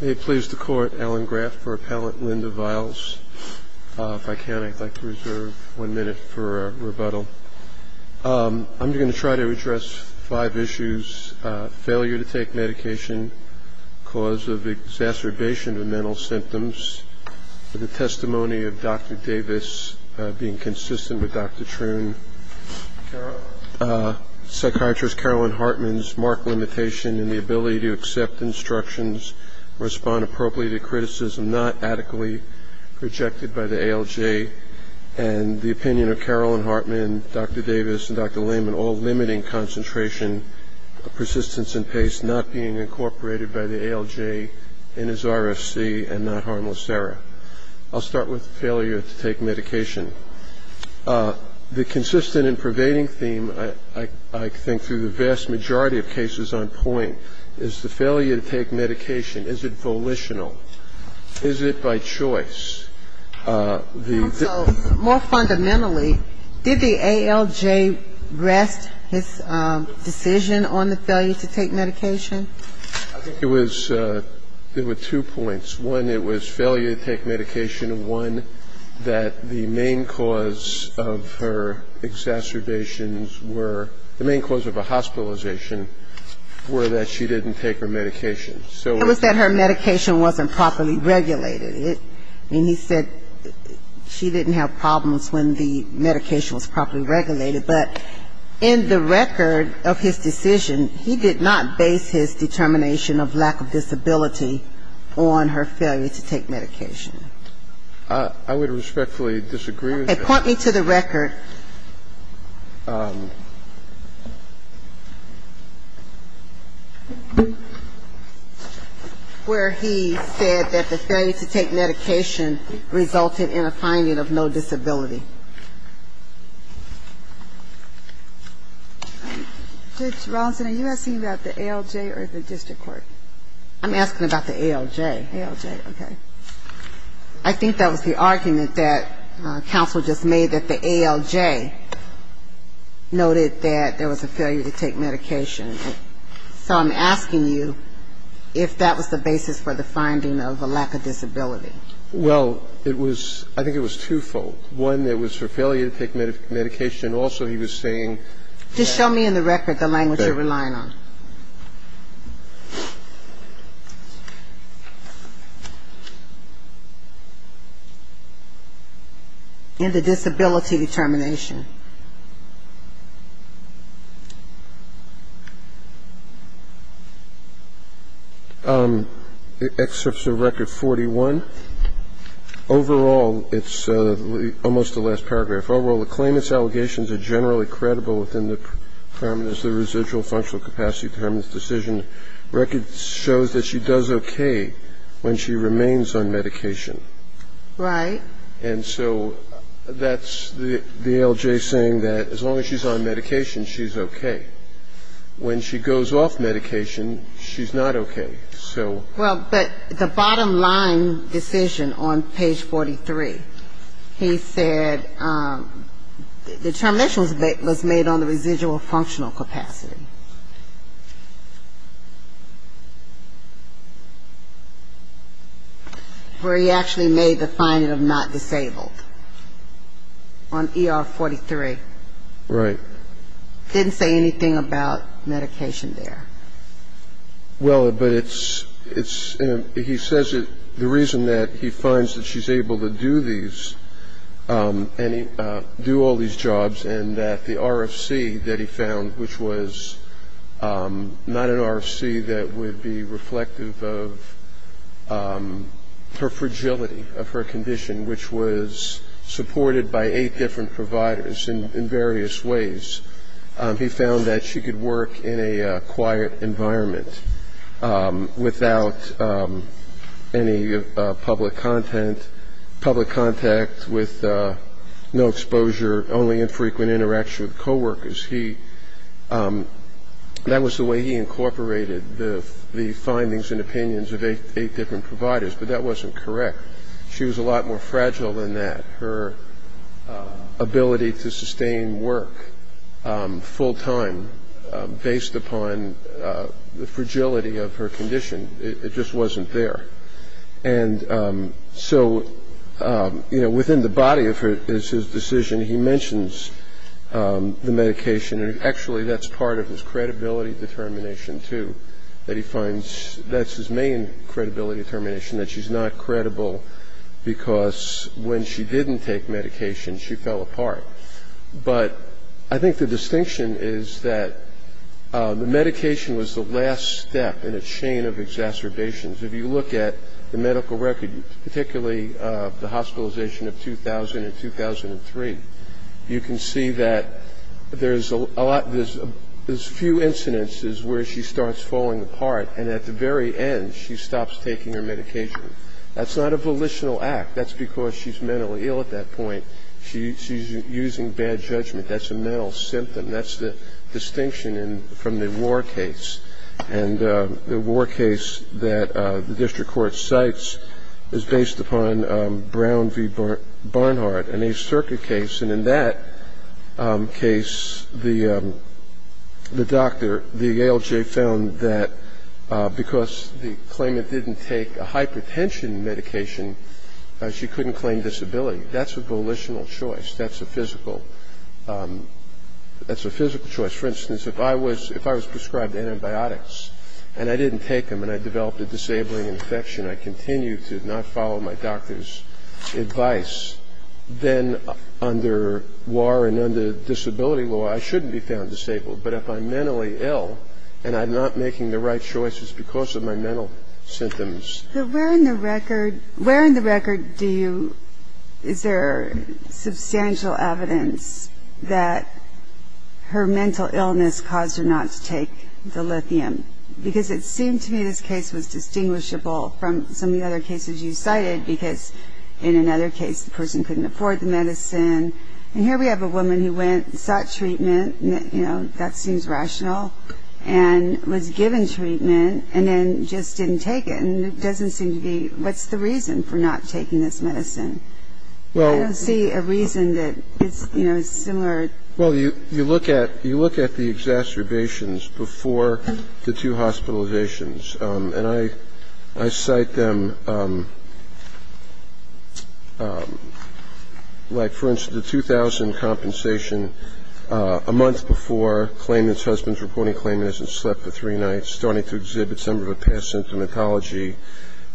May it please the Court, Alan Graff for Appellant Linda Viles. If I can, I'd like to reserve one minute for rebuttal. I'm going to try to address five issues. Failure to take medication, cause of exacerbation of mental symptoms, the testimony of Dr. Davis being consistent with Dr. Truhn, psychiatrist Carolyn Hartman's marked limitation in the ability to accept instructions, respond appropriately to criticism not adequately projected by the ALJ, and the opinion of Carolyn Hartman, Dr. Davis, and Dr. Lehman all limiting concentration, persistence and pace not being incorporated by the ALJ in his RFC and not harmless error. I'll start with failure to take medication. The consistent and pervading theme I think through the vast majority of cases on point is the failure to take medication. Is it volitional? Is it by choice? The ---- So more fundamentally, did the ALJ rest his decision on the failure to take medication? I think it was ñ there were two points. One, it was failure to take medication. And one, that the main cause of her exacerbations were ñ the main cause of her hospitalization were that she didn't take her medication. It was that her medication wasn't properly regulated. And he said she didn't have problems when the medication was properly regulated. But in the record of his decision, he did not base his determination of lack of disability on her failure to take medication. I would respectfully disagree with that. Okay. Point me to the record where he said that the failure to take medication resulted in a finding of no disability. Judge Rawlinson, are you asking about the ALJ or the district court? I'm asking about the ALJ. ALJ, okay. I think that was the argument that counsel just made, that the ALJ noted that there was a failure to take medication. So I'm asking you if that was the basis for the finding of a lack of disability. Well, it was ñ I think it was twofold. One, it was her failure to take medication. Also, he was saying that ñ Just show me in the record the language you're relying on. Okay. In the disability determination. Excerpts of record 41. Overall, it's almost the last paragraph. Overall, the claimant's allegations are generally credible within the parameters of the residual functional capacity determinants decision. Record shows that she does okay when she remains on medication. Right. And so that's the ALJ saying that as long as she's on medication, she's okay. When she goes off medication, she's not okay. Well, but the bottom line decision on page 43, he said the determination was made on the residual functional capacity. Where he actually made the finding of not disabled on ER 43. Right. Didn't say anything about medication there. Well, but it's ñ he says that the reason that he finds that she's able to do these and do all these jobs and that the RFC that he found, which was not an RFC that would be reflective of her fragility, of her condition, which was supported by eight different providers in various ways. He found that she could work in a quiet environment without any public content, public contact with no exposure, only infrequent interaction with coworkers. He ñ that was the way he incorporated the findings and opinions of eight different providers. But that wasn't correct. She was a lot more fragile than that. Her ability to sustain work full time based upon the fragility of her condition. It just wasn't there. And so, you know, within the body of his decision, he mentions the medication. And actually, that's part of his credibility determination too, that he finds that's his main credibility determination, that she's not credible because when she didn't take medication, she fell apart. But I think the distinction is that the medication was the last step in a chain of exacerbations. If you look at the medical record, particularly the hospitalization of 2000 and 2003, you can see that there's a lot ñ there's a few incidences where she starts falling apart, and at the very end, she stops taking her medication. That's not a volitional act. That's because she's mentally ill at that point. She's using bad judgment. That's a mental symptom. That's the distinction from the war case. And the war case that the district court cites is based upon Brown v. Barnhart, an Ace Circuit case. And in that case, the doctor, the ALJ, found that because the claimant didn't take a hypertension medication, she couldn't claim disability. That's a volitional choice. That's a physical choice. For instance, if I was prescribed antibiotics and I didn't take them and I developed a disabling infection, I continue to not follow my doctor's advice, then under war and under disability law, I shouldn't be found disabled. But if I'm mentally ill and I'm not making the right choices because of my mental symptoms. So where in the record do you ñ is there substantial evidence that her mental illness caused her not to take the lithium? Because it seemed to me this case was distinguishable from some of the other cases you cited because in another case the person couldn't afford the medicine. And here we have a woman who went, sought treatment, you know, that seems rational, and was given treatment and then just didn't take it. And it doesn't seem to be ñ what's the reason for not taking this medicine? I don't see a reason that, you know, is similar. Well, you look at the exacerbations before the two hospitalizations, and I cite them like, for instance, the 2000 compensation, a month before claimant's husband's reporting claimant hasn't slept for three nights, starting to exhibit some of the past symptomatology.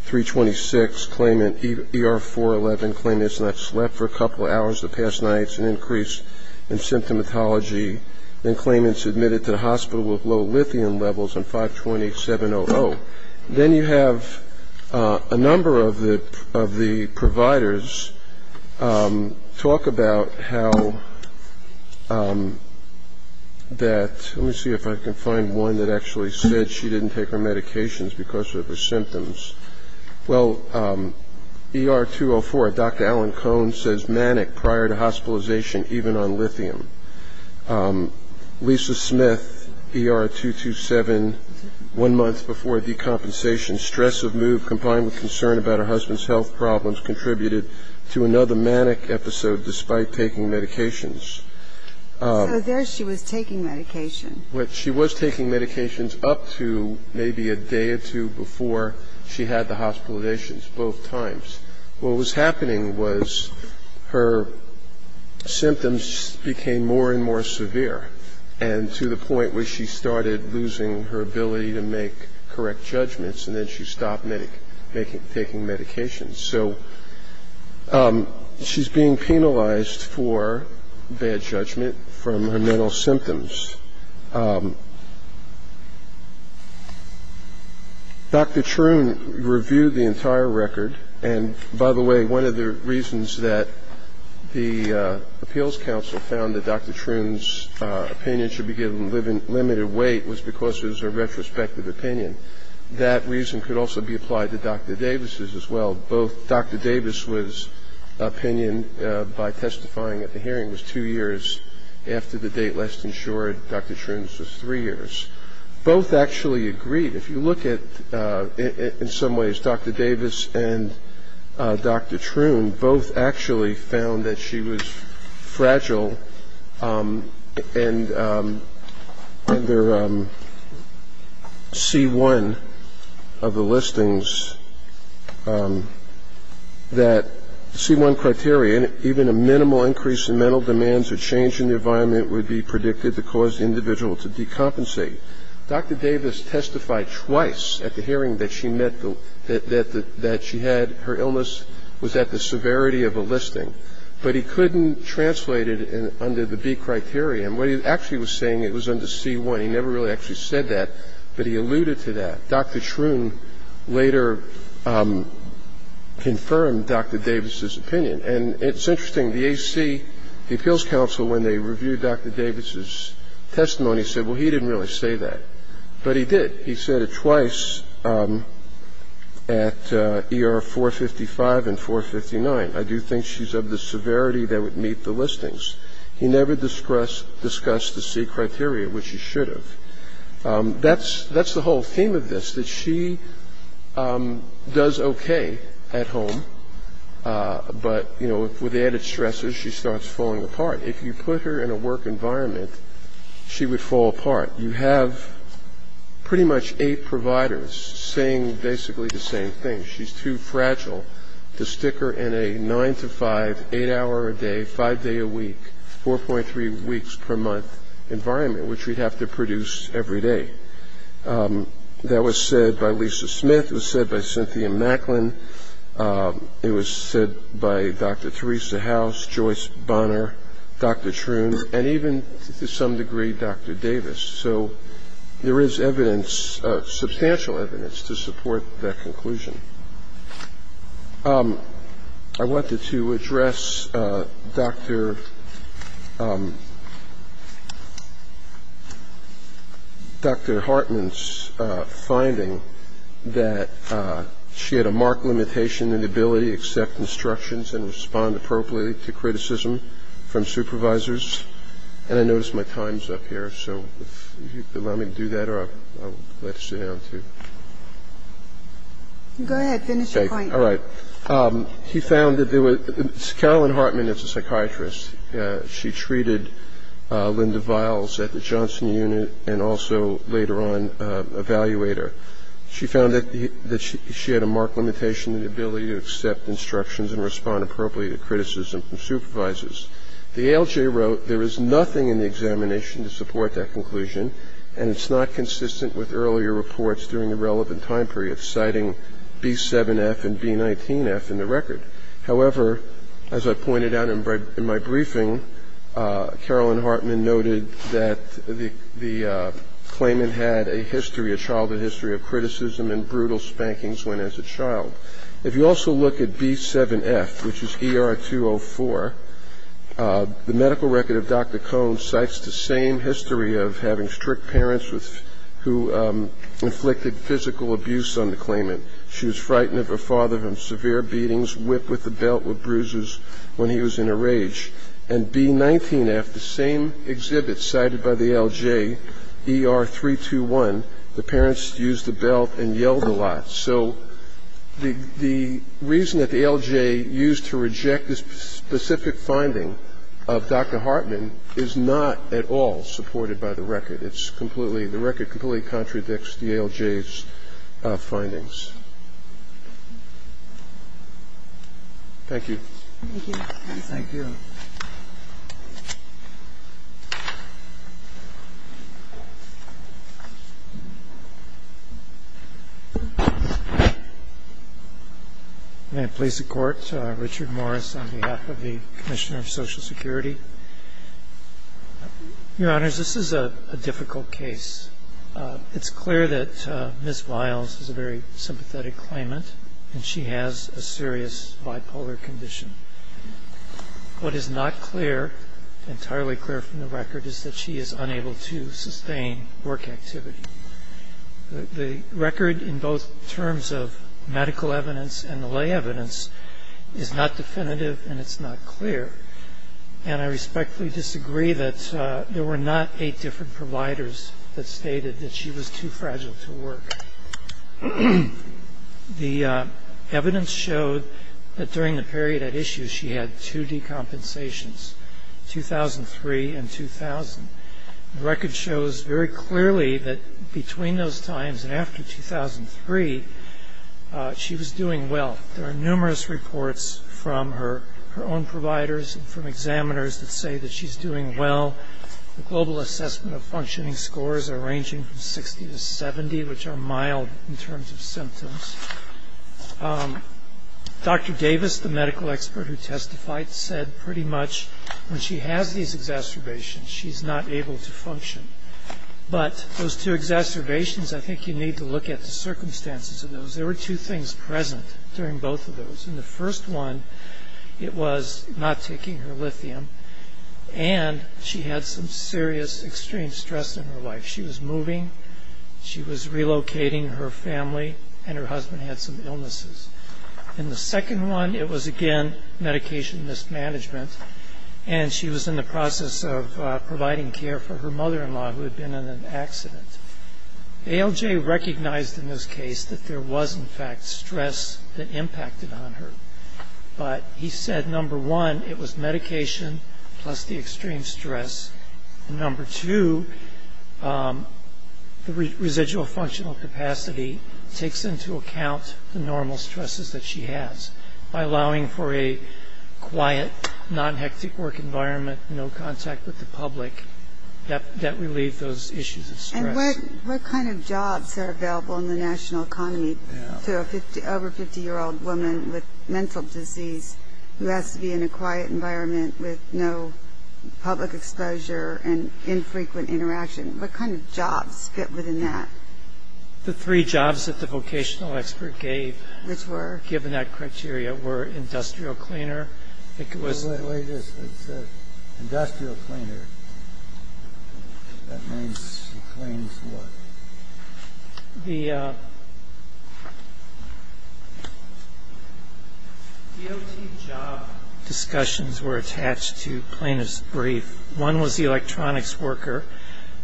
326, claimant ER-411, claimant's not slept for a couple of hours the past night, it's an increase in symptomatology. Then claimant's admitted to the hospital with low lithium levels on 5-28-7-0-0. Then you have a number of the providers talk about how that ñ Well, ER-204, Dr. Alan Cohn says manic prior to hospitalization, even on lithium. Lisa Smith, ER-227, one month before decompensation, stress of mood combined with concern about her husband's health problems contributed to another manic episode despite taking medications. So there she was taking medication. She was taking medications up to maybe a day or two before she had the hospitalizations, both times. What was happening was her symptoms became more and more severe, and to the point where she started losing her ability to make correct judgments, and then she stopped taking medications. So she's being penalized for bad judgment from her mental symptoms. Dr. Troon reviewed the entire record, and by the way, one of the reasons that the appeals council found that Dr. Troon's opinion should be given limited weight was because it was a retrospective opinion. That reason could also be applied to Dr. Davis's as well. Both Dr. Davis's opinion by testifying at the hearing was two years after the date last insured Dr. Troon's was three years. Both actually agreed. If you look at, in some ways, Dr. Davis and Dr. Troon, both actually found that she was fragile, and under C1 of the listings that C1 criteria, even a minimal increase in mental demands or change in the environment would be predicted to cause the individual to decompensate. Dr. Davis testified twice at the hearing that she had her illness. It was at the severity of a listing. But he couldn't translate it under the B criteria. What he actually was saying, it was under C1. He never really actually said that, but he alluded to that. Dr. Troon later confirmed Dr. Davis's opinion. And it's interesting, the AC, the appeals council, when they reviewed Dr. Davis's testimony said, well, he didn't really say that. But he did. He said it twice at ER 455 and 459. I do think she's of the severity that would meet the listings. He never discussed the C criteria, which he should have. That's the whole theme of this, that she does okay at home. But, you know, with added stresses, she starts falling apart. If you put her in a work environment, she would fall apart. You have pretty much eight providers saying basically the same thing. She's too fragile to stick her in a 9-to-5, 8-hour-a-day, 5-day-a-week, 4.3-weeks-per-month environment, which we'd have to produce every day. That was said by Lisa Smith. It was said by Cynthia Macklin. It was said by Dr. Theresa House, Joyce Bonner, Dr. Troon, and even, to some degree, Dr. Davis. So there is evidence, substantial evidence, to support that conclusion. I wanted to address Dr. Hartman's finding that she had a marked limitation and ability to accept instructions and respond appropriately to criticism from supervisors. And I noticed my time's up here, so if you'd allow me to do that, or I'll let it sit down, too. Go ahead. Finish your point. All right. He found that there was ñ Carolyn Hartman is a psychiatrist. She treated Linda Viles at the Johnson Unit and also later on Evaluator. She found that she had a marked limitation and ability to accept instructions and respond appropriately to criticism from supervisors. The ALJ wrote there is nothing in the examination to support that conclusion and it's not consistent with earlier reports during the relevant time period, citing B7F and B19F in the record. However, as I pointed out in my briefing, Carolyn Hartman noted that the claimant had a history, a childhood history of criticism and brutal spankings when as a child. If you also look at B7F, which is ER 204, the medical record of Dr. Cohn cites the same history of having strict parents who inflicted physical abuse on the claimant. She was frightened of her father from severe beatings, bruises when he was in a rage. And B19F, the same exhibit cited by the ALJ, ER 321, the parents used the belt and yelled a lot. So the reason that the ALJ used to reject this specific finding of Dr. Hartman is not at all supported by the record. The record completely contradicts the ALJ's findings. Thank you. Thank you. Thank you. May it please the Court, Richard Morris on behalf of the Commissioner of Social Security. Your Honors, this is a difficult case. It's clear that Ms. Wiles is a very sympathetic claimant and she has a serious bipolar condition. What is not clear, entirely clear from the record, is that she is unable to sustain work activity. The record in both terms of medical evidence and the lay evidence is not definitive and it's not clear. And I respectfully disagree that there were not eight different providers that stated that she was too fragile to work. The evidence showed that during the period at issue she had two decompensations, 2003 and 2000. The record shows very clearly that between those times and after 2003, she was doing well. There are numerous reports from her own providers and from examiners that say that she's doing well. The global assessment of functioning scores are ranging from 60 to 70, which are mild in terms of symptoms. Dr. Davis, the medical expert who testified, said pretty much when she has these exacerbations, she's not able to function. But those two exacerbations, I think you need to look at the circumstances of those. There were two things present during both of those. In the first one, it was not taking her lithium and she had some serious extreme stress in her life. She was moving, she was relocating her family, and her husband had some illnesses. In the second one, it was again medication mismanagement and she was in the process of providing care for her mother-in-law who had been in an accident. ALJ recognized in this case that there was, in fact, stress that impacted on her. But he said, number one, it was medication plus the extreme stress. And number two, the residual functional capacity takes into account the normal stresses that she has by allowing for a quiet, non-hectic work environment, no contact with the public, that relieved those issues of stress. And what kind of jobs are available in the national economy to an over-50-year-old woman with mental disease who has to be in a quiet environment with no public exposure and infrequent interaction? What kind of jobs fit within that? The three jobs that the vocational expert gave, which were given that criteria, were industrial cleaner. Industrial cleaner. That means it cleans what? The DOT job discussions were attached to plaintiff's brief. One was the electronics worker.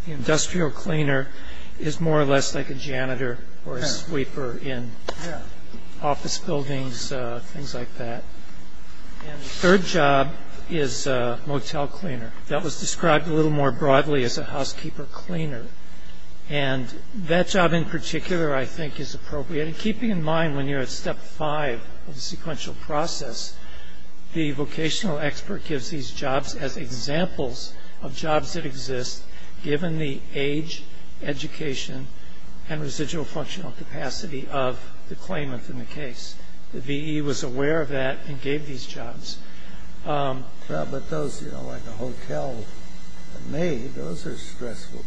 The industrial cleaner is more or less like a janitor or a sweeper in office buildings, things like that. And the third job is a motel cleaner. That was described a little more broadly as a housekeeper cleaner. And that job in particular, I think, is appropriate. And keeping in mind when you're at step five of the sequential process, the vocational expert gives these jobs as examples of jobs that exist given the age, education, and residual functional capacity of the claimant in the case. The V.E. was aware of that and gave these jobs. But those, you know, like a hotel maid, those are stressful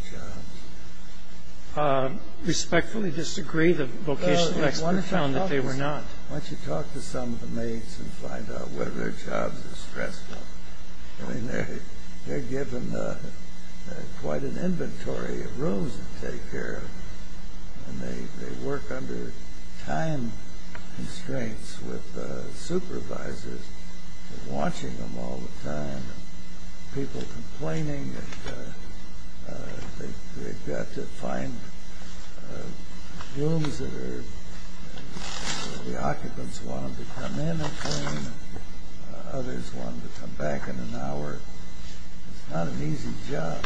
jobs. Respectfully disagree. The vocational expert found that they were not. Why don't you talk to some of the maids and find out whether their jobs are stressful? I mean, they're given quite an inventory of rooms to take care of. And they work under time constraints with supervisors watching them all the time, people complaining that they've got to find rooms that the occupants want them to come in and clean. Others want them to come back in an hour. It's not an easy job.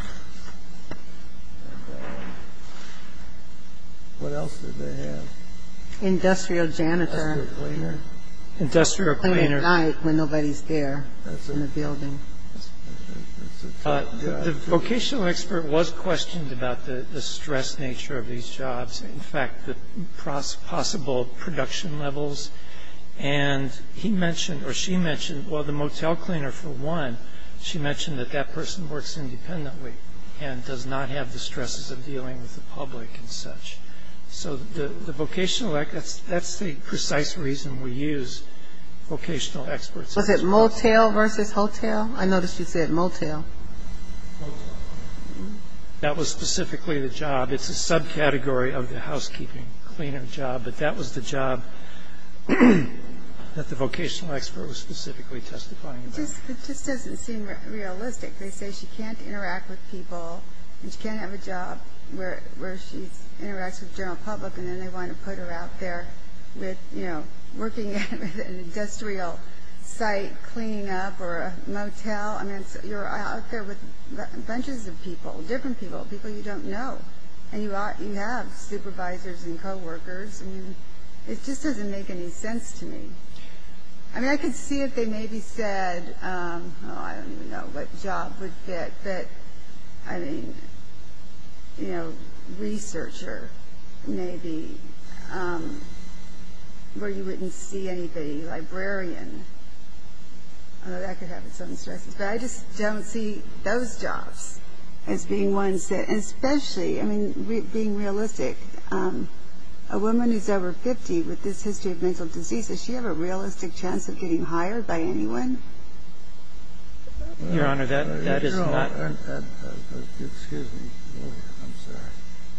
What else did they have? Industrial janitor. Cleaning at night when nobody's there in the building. The vocational expert was questioned about the stress nature of these jobs, in fact, the possible production levels. And he mentioned, or she mentioned, well, the motel cleaner, for one, she mentioned that that person works independently and does not have the stresses of dealing with the public and such. So the vocational, that's the precise reason we use vocational experts. Was it motel versus hotel? I noticed you said motel. Motel. That was specifically the job. It's a subcategory of the housekeeping cleaner job, but that was the job that the vocational expert was specifically testifying about. It just doesn't seem realistic. They say she can't interact with people and she can't have a job where she interacts with the general public and then they want to put her out there with, you know, working at an industrial site cleaning up or a motel. I mean, you're out there with bunches of people, different people, people you don't know, and you have supervisors and coworkers. I mean, it just doesn't make any sense to me. I mean, I could see if they maybe said, oh, I don't even know what job would fit, but, I mean, you know, researcher maybe, where you wouldn't see anybody, librarian. That could have its own stresses. But I just don't see those jobs as being ones that, especially, I mean, being realistic, a woman who's over 50 with this history of mental disease, does she have a realistic chance of getting hired by anyone? Your Honor, that is not.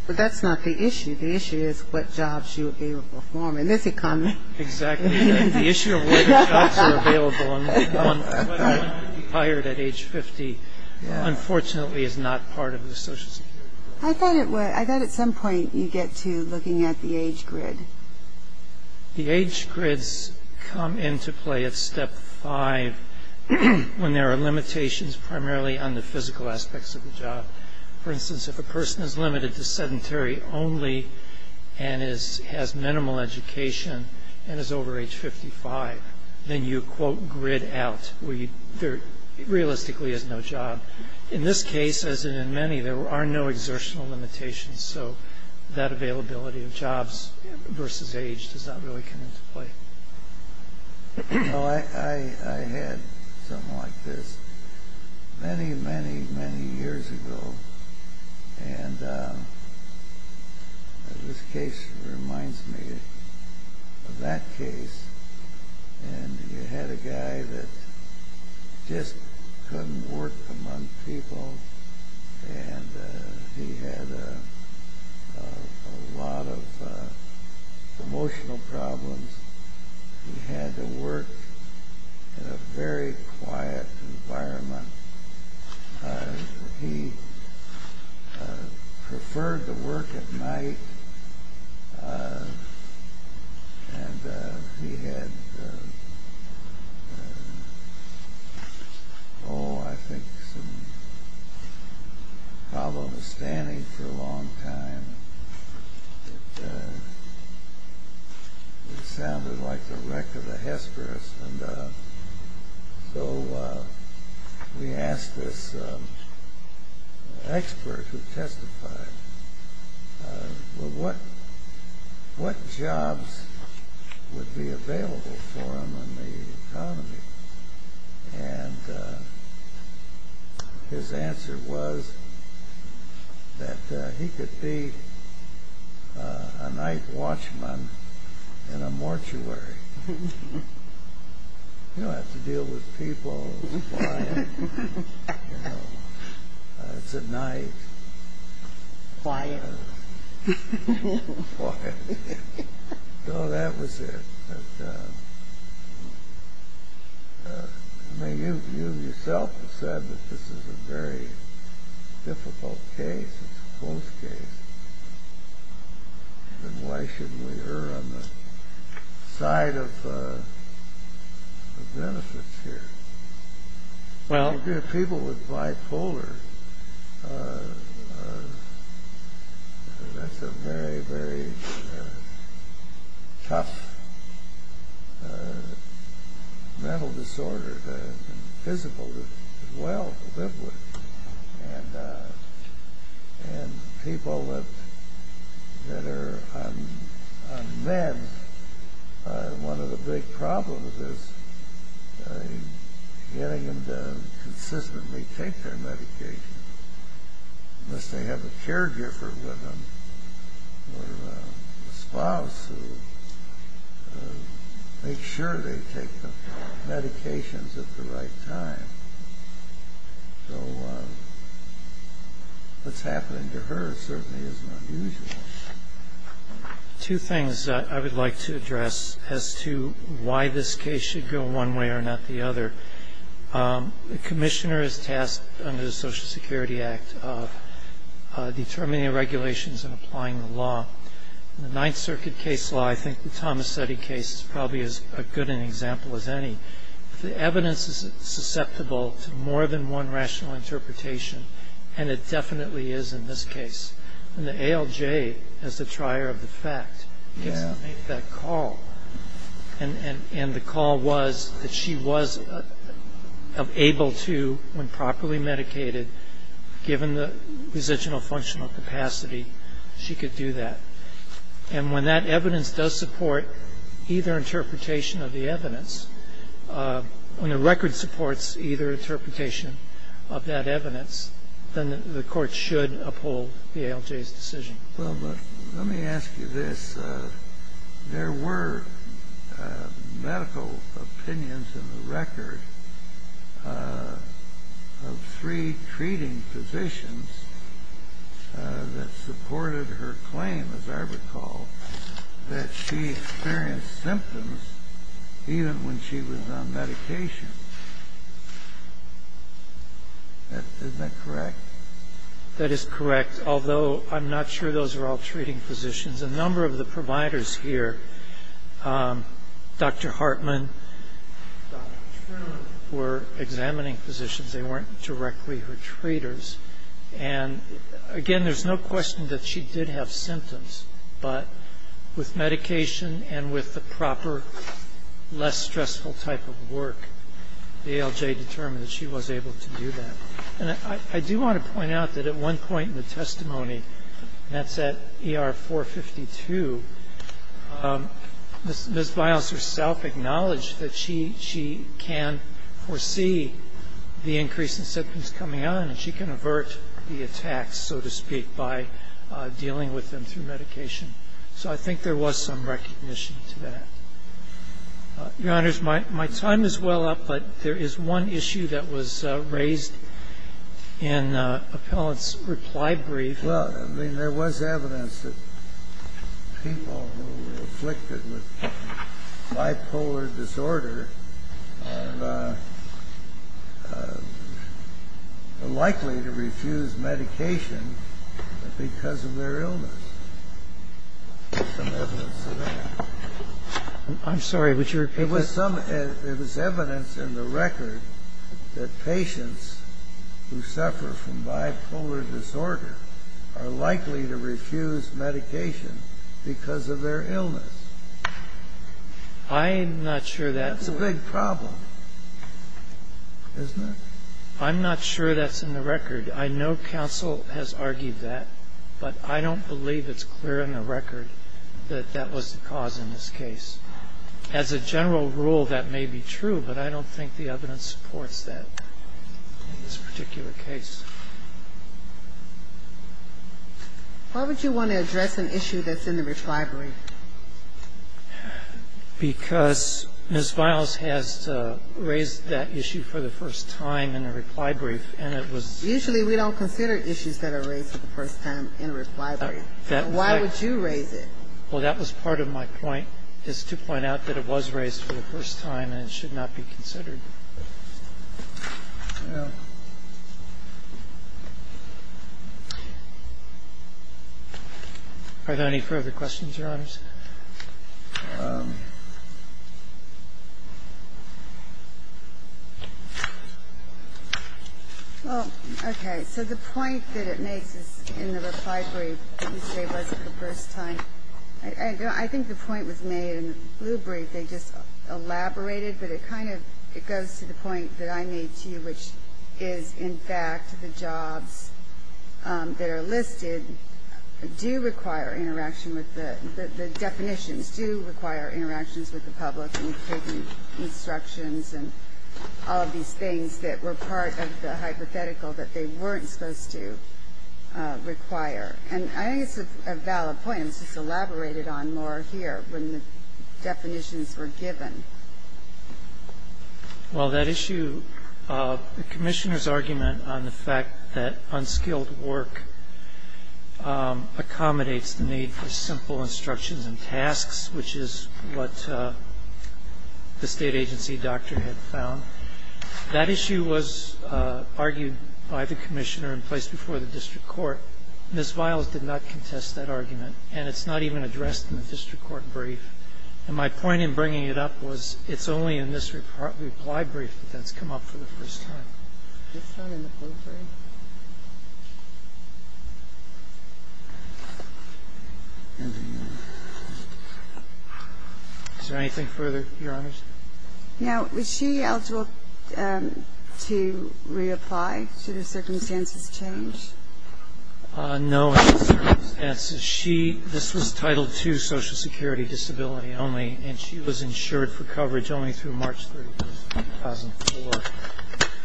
But that's not the issue. The issue is what jobs you would be able to perform in this economy. Exactly. The issue of whether jobs are available and whether one would be hired at age 50, unfortunately, is not part of the social security. I thought at some point you get to looking at the age grid. The age grids come into play at step five when there are limitations primarily on the physical aspects of the job. For instance, if a person is limited to sedentary only and has minimal education and is over age 55, then you quote grid out where there realistically is no job. In this case, as in many, there are no exertional limitations. So that availability of jobs versus age does not really come into play. I had something like this many, many, many years ago, and this case reminds me of that case. You had a guy that just couldn't work among people and he had a lot of emotional problems. He had to work in a very quiet environment. He preferred to work at night and he had, oh, I think some problem with standing for a long time. It sounded like the wreck of a Hesperus. So we asked this expert who testified, well, what jobs would be available for him in the economy? And his answer was that he could be a night watchman in a mortuary. You don't have to deal with people. It's a night. Quiet. Quiet. So that was it. You yourself have said that this is a very difficult case. It's a close case. Then why shouldn't we err on the side of the benefits here? People with bipolar, that's a very, very tough mental disorder, and people that are on meds, one of the big problems is getting them to consistently take their medication unless they have a caregiver with them or a spouse who makes sure they take the medications at the right time. So what's happening to her certainly isn't unusual. Two things I would like to address as to why this case should go one way or not the other. The commissioner is tasked under the Social Security Act of determining the regulations and applying the law. In the Ninth Circuit case law, I think the Tomassetti case is probably as good an example as any. The evidence is susceptible to more than one rational interpretation, and it definitely is in this case. And the ALJ, as the trier of the fact, gets to make that call. And the call was that she was able to, when properly medicated, given the residual functional capacity, she could do that. And when that evidence does support either interpretation of the evidence, when the record supports either interpretation of that evidence, then the court should uphold the ALJ's decision. Well, but let me ask you this. There were medical opinions in the record of three treating physicians that supported her claim, as I recall, that she experienced symptoms even when she was on medication. Isn't that correct? That is correct, although I'm not sure those were all treating physicians. A number of the providers here, Dr. Hartman, Dr. Truman, were examining physicians. They weren't directly her treaters. And, again, there's no question that she did have symptoms, but with medication and with the proper, less stressful type of work, the ALJ determined that she was able to do that. And I do want to point out that at one point in the testimony, and that's at ER 452, Ms. Biles herself acknowledged that she can foresee the increase in symptoms coming on and she can avert the attacks, so to speak, by dealing with them through medication. So I think there was some recognition to that. Your Honors, my time is well up, but there is one issue that was raised in Appellant's reply brief. Well, I mean, there was evidence that people who were afflicted with bipolar disorder are likely to refuse medication because of their illness. There's some evidence of that. I'm sorry, would you repeat that? There was evidence in the record that patients who suffer from bipolar disorder are likely to refuse medication because of their illness. That's a big problem, isn't it? I'm not sure that's in the record. I know counsel has argued that, but I don't believe it's clear in the record that that was the cause in this case. As a general rule, that may be true, but I don't think the evidence supports that in this particular case. Why would you want to address an issue that's in the reply brief? Because Ms. Biles has raised that issue for the first time in a reply brief, and it was ‑‑ Usually we don't consider issues that are raised for the first time in a reply brief. Why would you raise it? Well, that was part of my point, is to point out that it was raised for the first time and it should not be considered. Are there any further questions, Your Honors? Well, okay. So the point that it makes is in the reply brief, it was raised for the first time. I think the point was made in the blue brief. They just elaborated, but it kind of goes to the point that I made to you, which is, in fact, the jobs that are listed do require interaction with the ‑‑ the definitions do require interactions with the public and taking instructions and all of these things that were part of the hypothetical that they weren't supposed to require. And I think it's a valid point, and it's just elaborated on more here when the definitions were given. Well, that issue, the commissioner's argument on the fact that unskilled work accommodates the need for simple instructions and tasks, which is what the state agency doctor had found. That issue was argued by the commissioner in place before the district court. Ms. Viles did not contest that argument, and it's not even addressed in the district court brief. And my point in bringing it up was it's only in this reply brief that that's come up for the first time. Is there anything further, Your Honors? Now, was she eligible to reapply? Should her circumstances change? No circumstances. She ‑‑ this was Title II social security disability only, and she was insured for coverage only through March 31, 2004.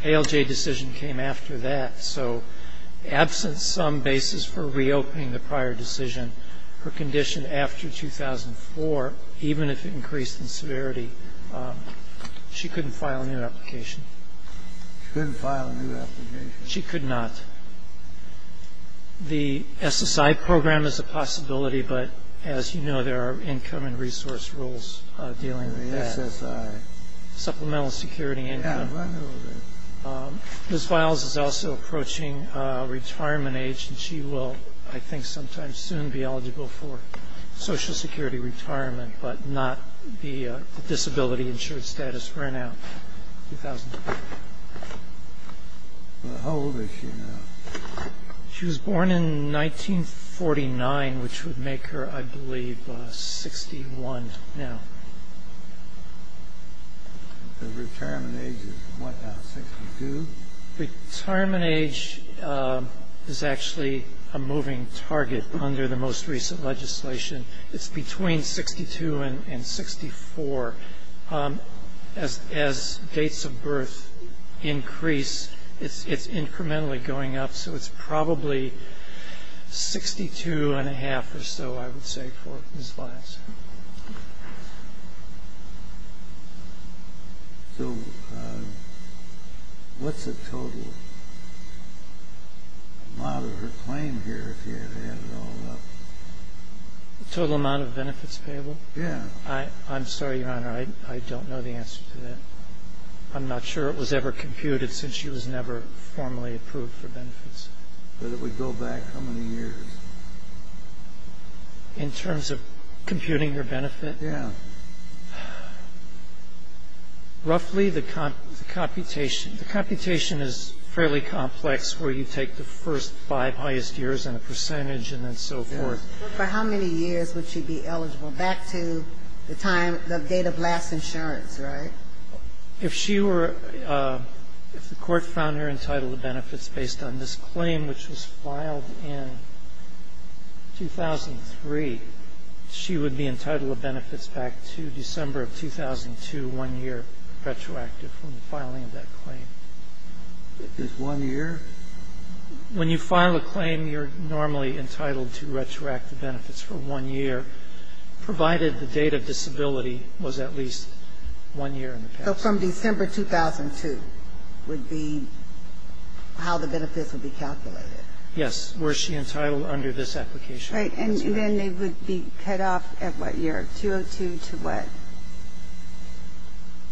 ALJ decision came after that, so absent some basis for reopening the prior decision, her condition after 2004, even if it increased in severity, she couldn't file a new application. She couldn't file a new application. She could not. The SSI program is a possibility, but as you know, there are income and resource rules dealing with that. The SSI. Supplemental security income. Yeah, I know that. Ms. Viles is also approaching retirement age, and she will, I think, sometime soon be eligible for social security retirement, but not the disability insured status for now, 2004. How old is she now? She was born in 1949, which would make her, I believe, 61 now. The retirement age is what now, 62? Retirement age is actually a moving target under the most recent legislation. It's between 62 and 64. As dates of birth increase, it's incrementally going up, so it's probably 62 and a half or so, I would say, for Ms. Viles. So what's the total amount of her claim here, if you had to add it all up? The total amount of benefits payable? Yeah. I'm sorry, Your Honor, I don't know the answer to that. I'm not sure it was ever computed since she was never formally approved for benefits. But it would go back how many years? In terms of computing her benefit? Yeah. Roughly, the computation is fairly complex, where you take the first five highest years and a percentage and then so forth. For how many years would she be eligible? Back to the time, the date of last insurance, right? If she were, if the court found her entitled to benefits based on this claim, which was filed in 2003, she would be entitled to benefits back to December of 2002, one year retroactive from the filing of that claim. Just one year? When you file a claim, you're normally entitled to retroactive benefits for one year, provided the date of disability was at least one year in the past. So from December 2002 would be how the benefits would be calculated? Yes. Was she entitled under this application? Right. And then they would be cut off at what year? 2002 to what?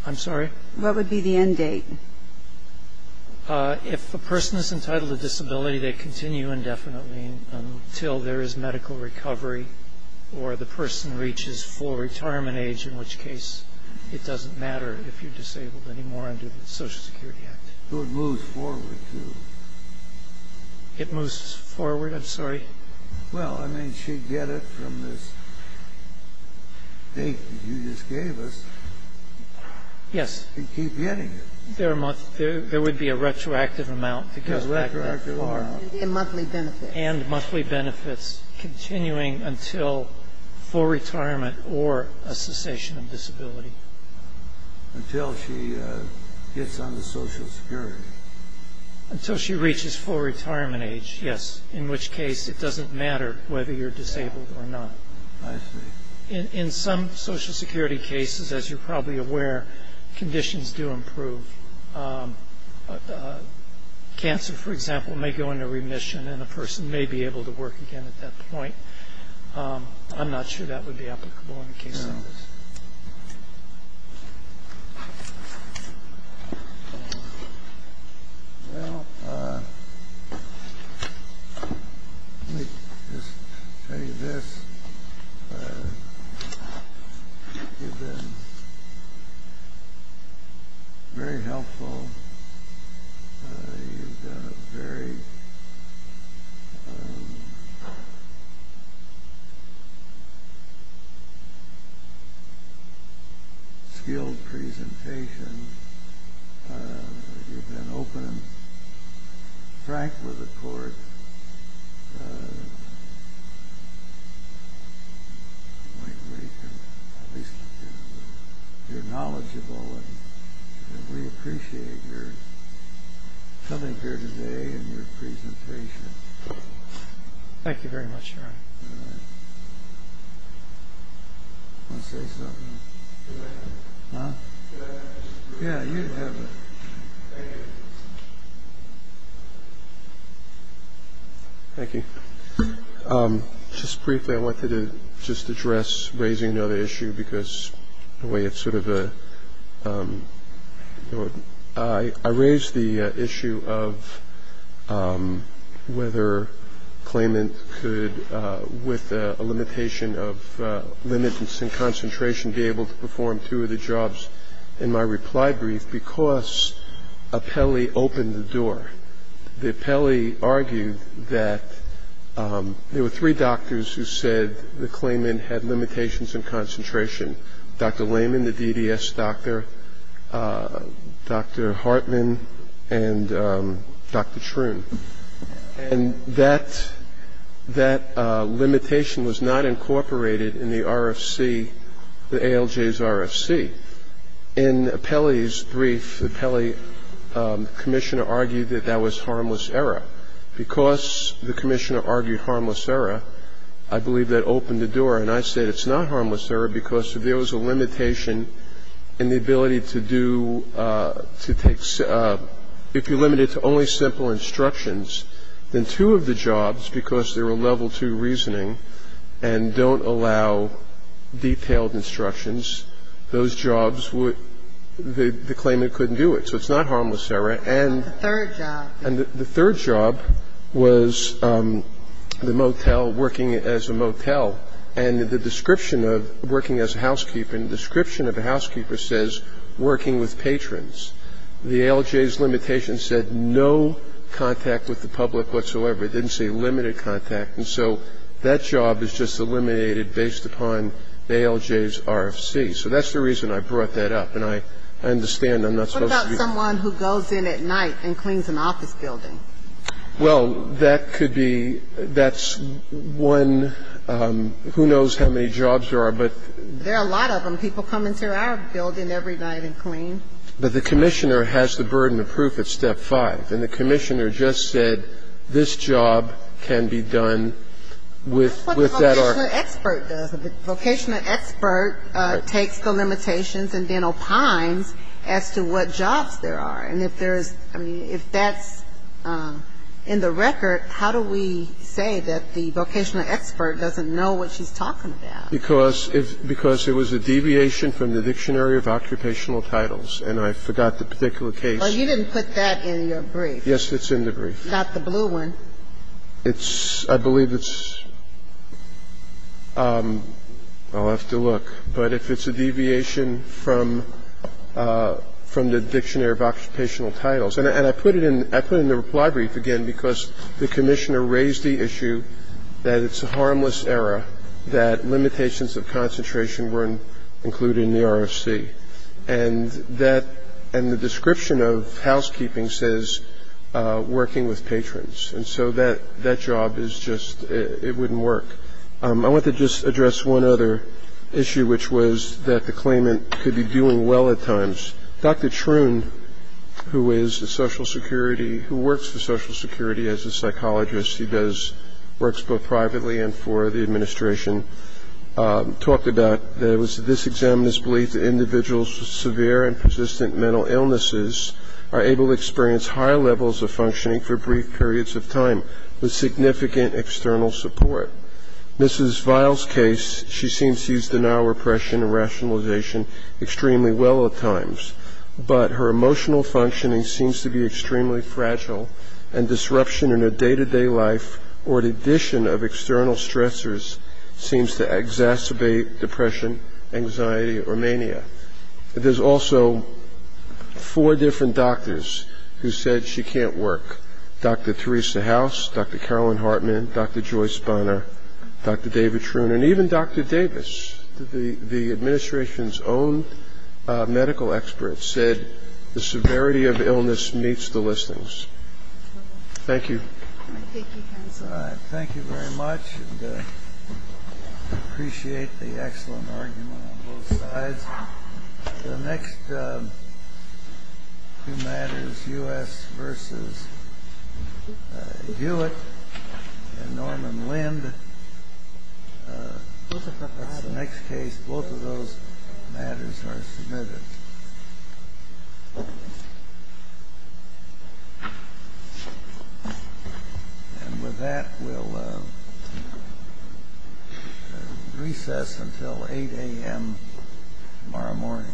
I'm sorry? What would be the end date? If a person is entitled to disability, they continue indefinitely until there is medical recovery or the person reaches full retirement age, in which case it doesn't matter if you're disabled anymore under the Social Security Act. So it moves forward, too? It moves forward. I'm sorry? Well, I mean, she'd get it from this date that you just gave us. Yes. And keep getting it. There would be a retroactive amount to go back that far. And monthly benefits. And monthly benefits continuing until full retirement or a cessation of disability. Until she gets under Social Security. Until she reaches full retirement age, yes, in which case it doesn't matter whether you're disabled or not. I see. In some Social Security cases, as you're probably aware, conditions do improve. Cancer, for example, may go into remission, and a person may be able to work again at that point. I'm not sure that would be applicable in the case of this. Well, let me just tell you this. You've been very helpful. You've done a very skilled presentation. You've been open and frank with the court. You're knowledgeable, and we appreciate your coming here today and your presentation. Thank you very much, Your Honor. Want to say something? Huh? Yeah, you have it. Thank you. Just briefly, I wanted to just address raising another issue because the way it's sort of a I raised the issue of whether claimant could, with a limitation of limits and concentration, be able to perform two of the jobs in my reply brief because an appellee opened the door. The appellee argued that there were three doctors who said the claimant had limitations in concentration. Dr. Lehman, the DDS doctor, Dr. Hartman, and Dr. Shroon. And that limitation was not incorporated in the RFC, the ALJ's RFC. In appellee's brief, the appellee commissioner argued that that was harmless error. Because the commissioner argued harmless error, I believe that opened the door, and I said it's not harmless error because if there was a limitation in the ability to do, to take, if you limit it to only simple instructions, then two of the jobs, because there were level two reasoning, and don't allow detailed instructions, those jobs would, the claimant couldn't do it. So it's not harmless error. And the third job was the motel, working as a motel. And the description of working as a housekeeper, and the description of a housekeeper says working with patrons. The ALJ's limitation said no contact with the public whatsoever. It didn't say limited contact. And so that job is just eliminated based upon the ALJ's RFC. So that's the reason I brought that up, and I understand I'm not supposed to be. What about someone who goes in at night and cleans an office building? Well, that could be, that's one, who knows how many jobs there are, but. There are a lot of them. People come into our building every night and clean. But the commissioner has the burden of proof at step five. And the commissioner just said this job can be done with that RFC. That's what the vocational expert does. The vocational expert takes the limitations and then opines as to what jobs there are. And if there is, I mean, if that's in the record, how do we say that the vocational expert doesn't know what she's talking about? Because it was a deviation from the Dictionary of Occupational Titles, and I forgot the particular case. Well, you didn't put that in your brief. Yes, it's in the brief. Not the blue one. It's, I believe it's, I'll have to look. But if it's a deviation from the Dictionary of Occupational Titles, and I put it in the reply brief again because the commissioner raised the issue that it's a harmless error, that limitations of concentration weren't included in the RFC. And the description of housekeeping says working with patrons. And so that job is just, it wouldn't work. I want to just address one other issue, which was that the claimant could be doing well at times. Dr. Truon, who is a social security, who works for social security as a psychologist, he does works both privately and for the administration, talked about this examiner's belief that individuals with severe and persistent mental illnesses are able to experience higher levels of functioning for brief periods of time with significant external support. Mrs. Viles' case, she seems to use denial repression and rationalization extremely well at times. But her emotional functioning seems to be extremely fragile, and disruption in her day-to-day life or the addition of external stressors seems to exacerbate depression, anxiety, or mania. There's also four different doctors who said she can't work. Dr. Theresa House, Dr. Carolyn Hartman, Dr. Joyce Bonner, Dr. David Truon, and even Dr. Davis, the administration's own medical expert, said the severity of illness meets the listings. Thank you. All right. Thank you very much. I appreciate the excellent argument on both sides. The next two matters, U.S. v. Hewitt and Norman Lind, the next case, both of those matters are submitted. And with that, we'll recess until 8 a.m. tomorrow morning.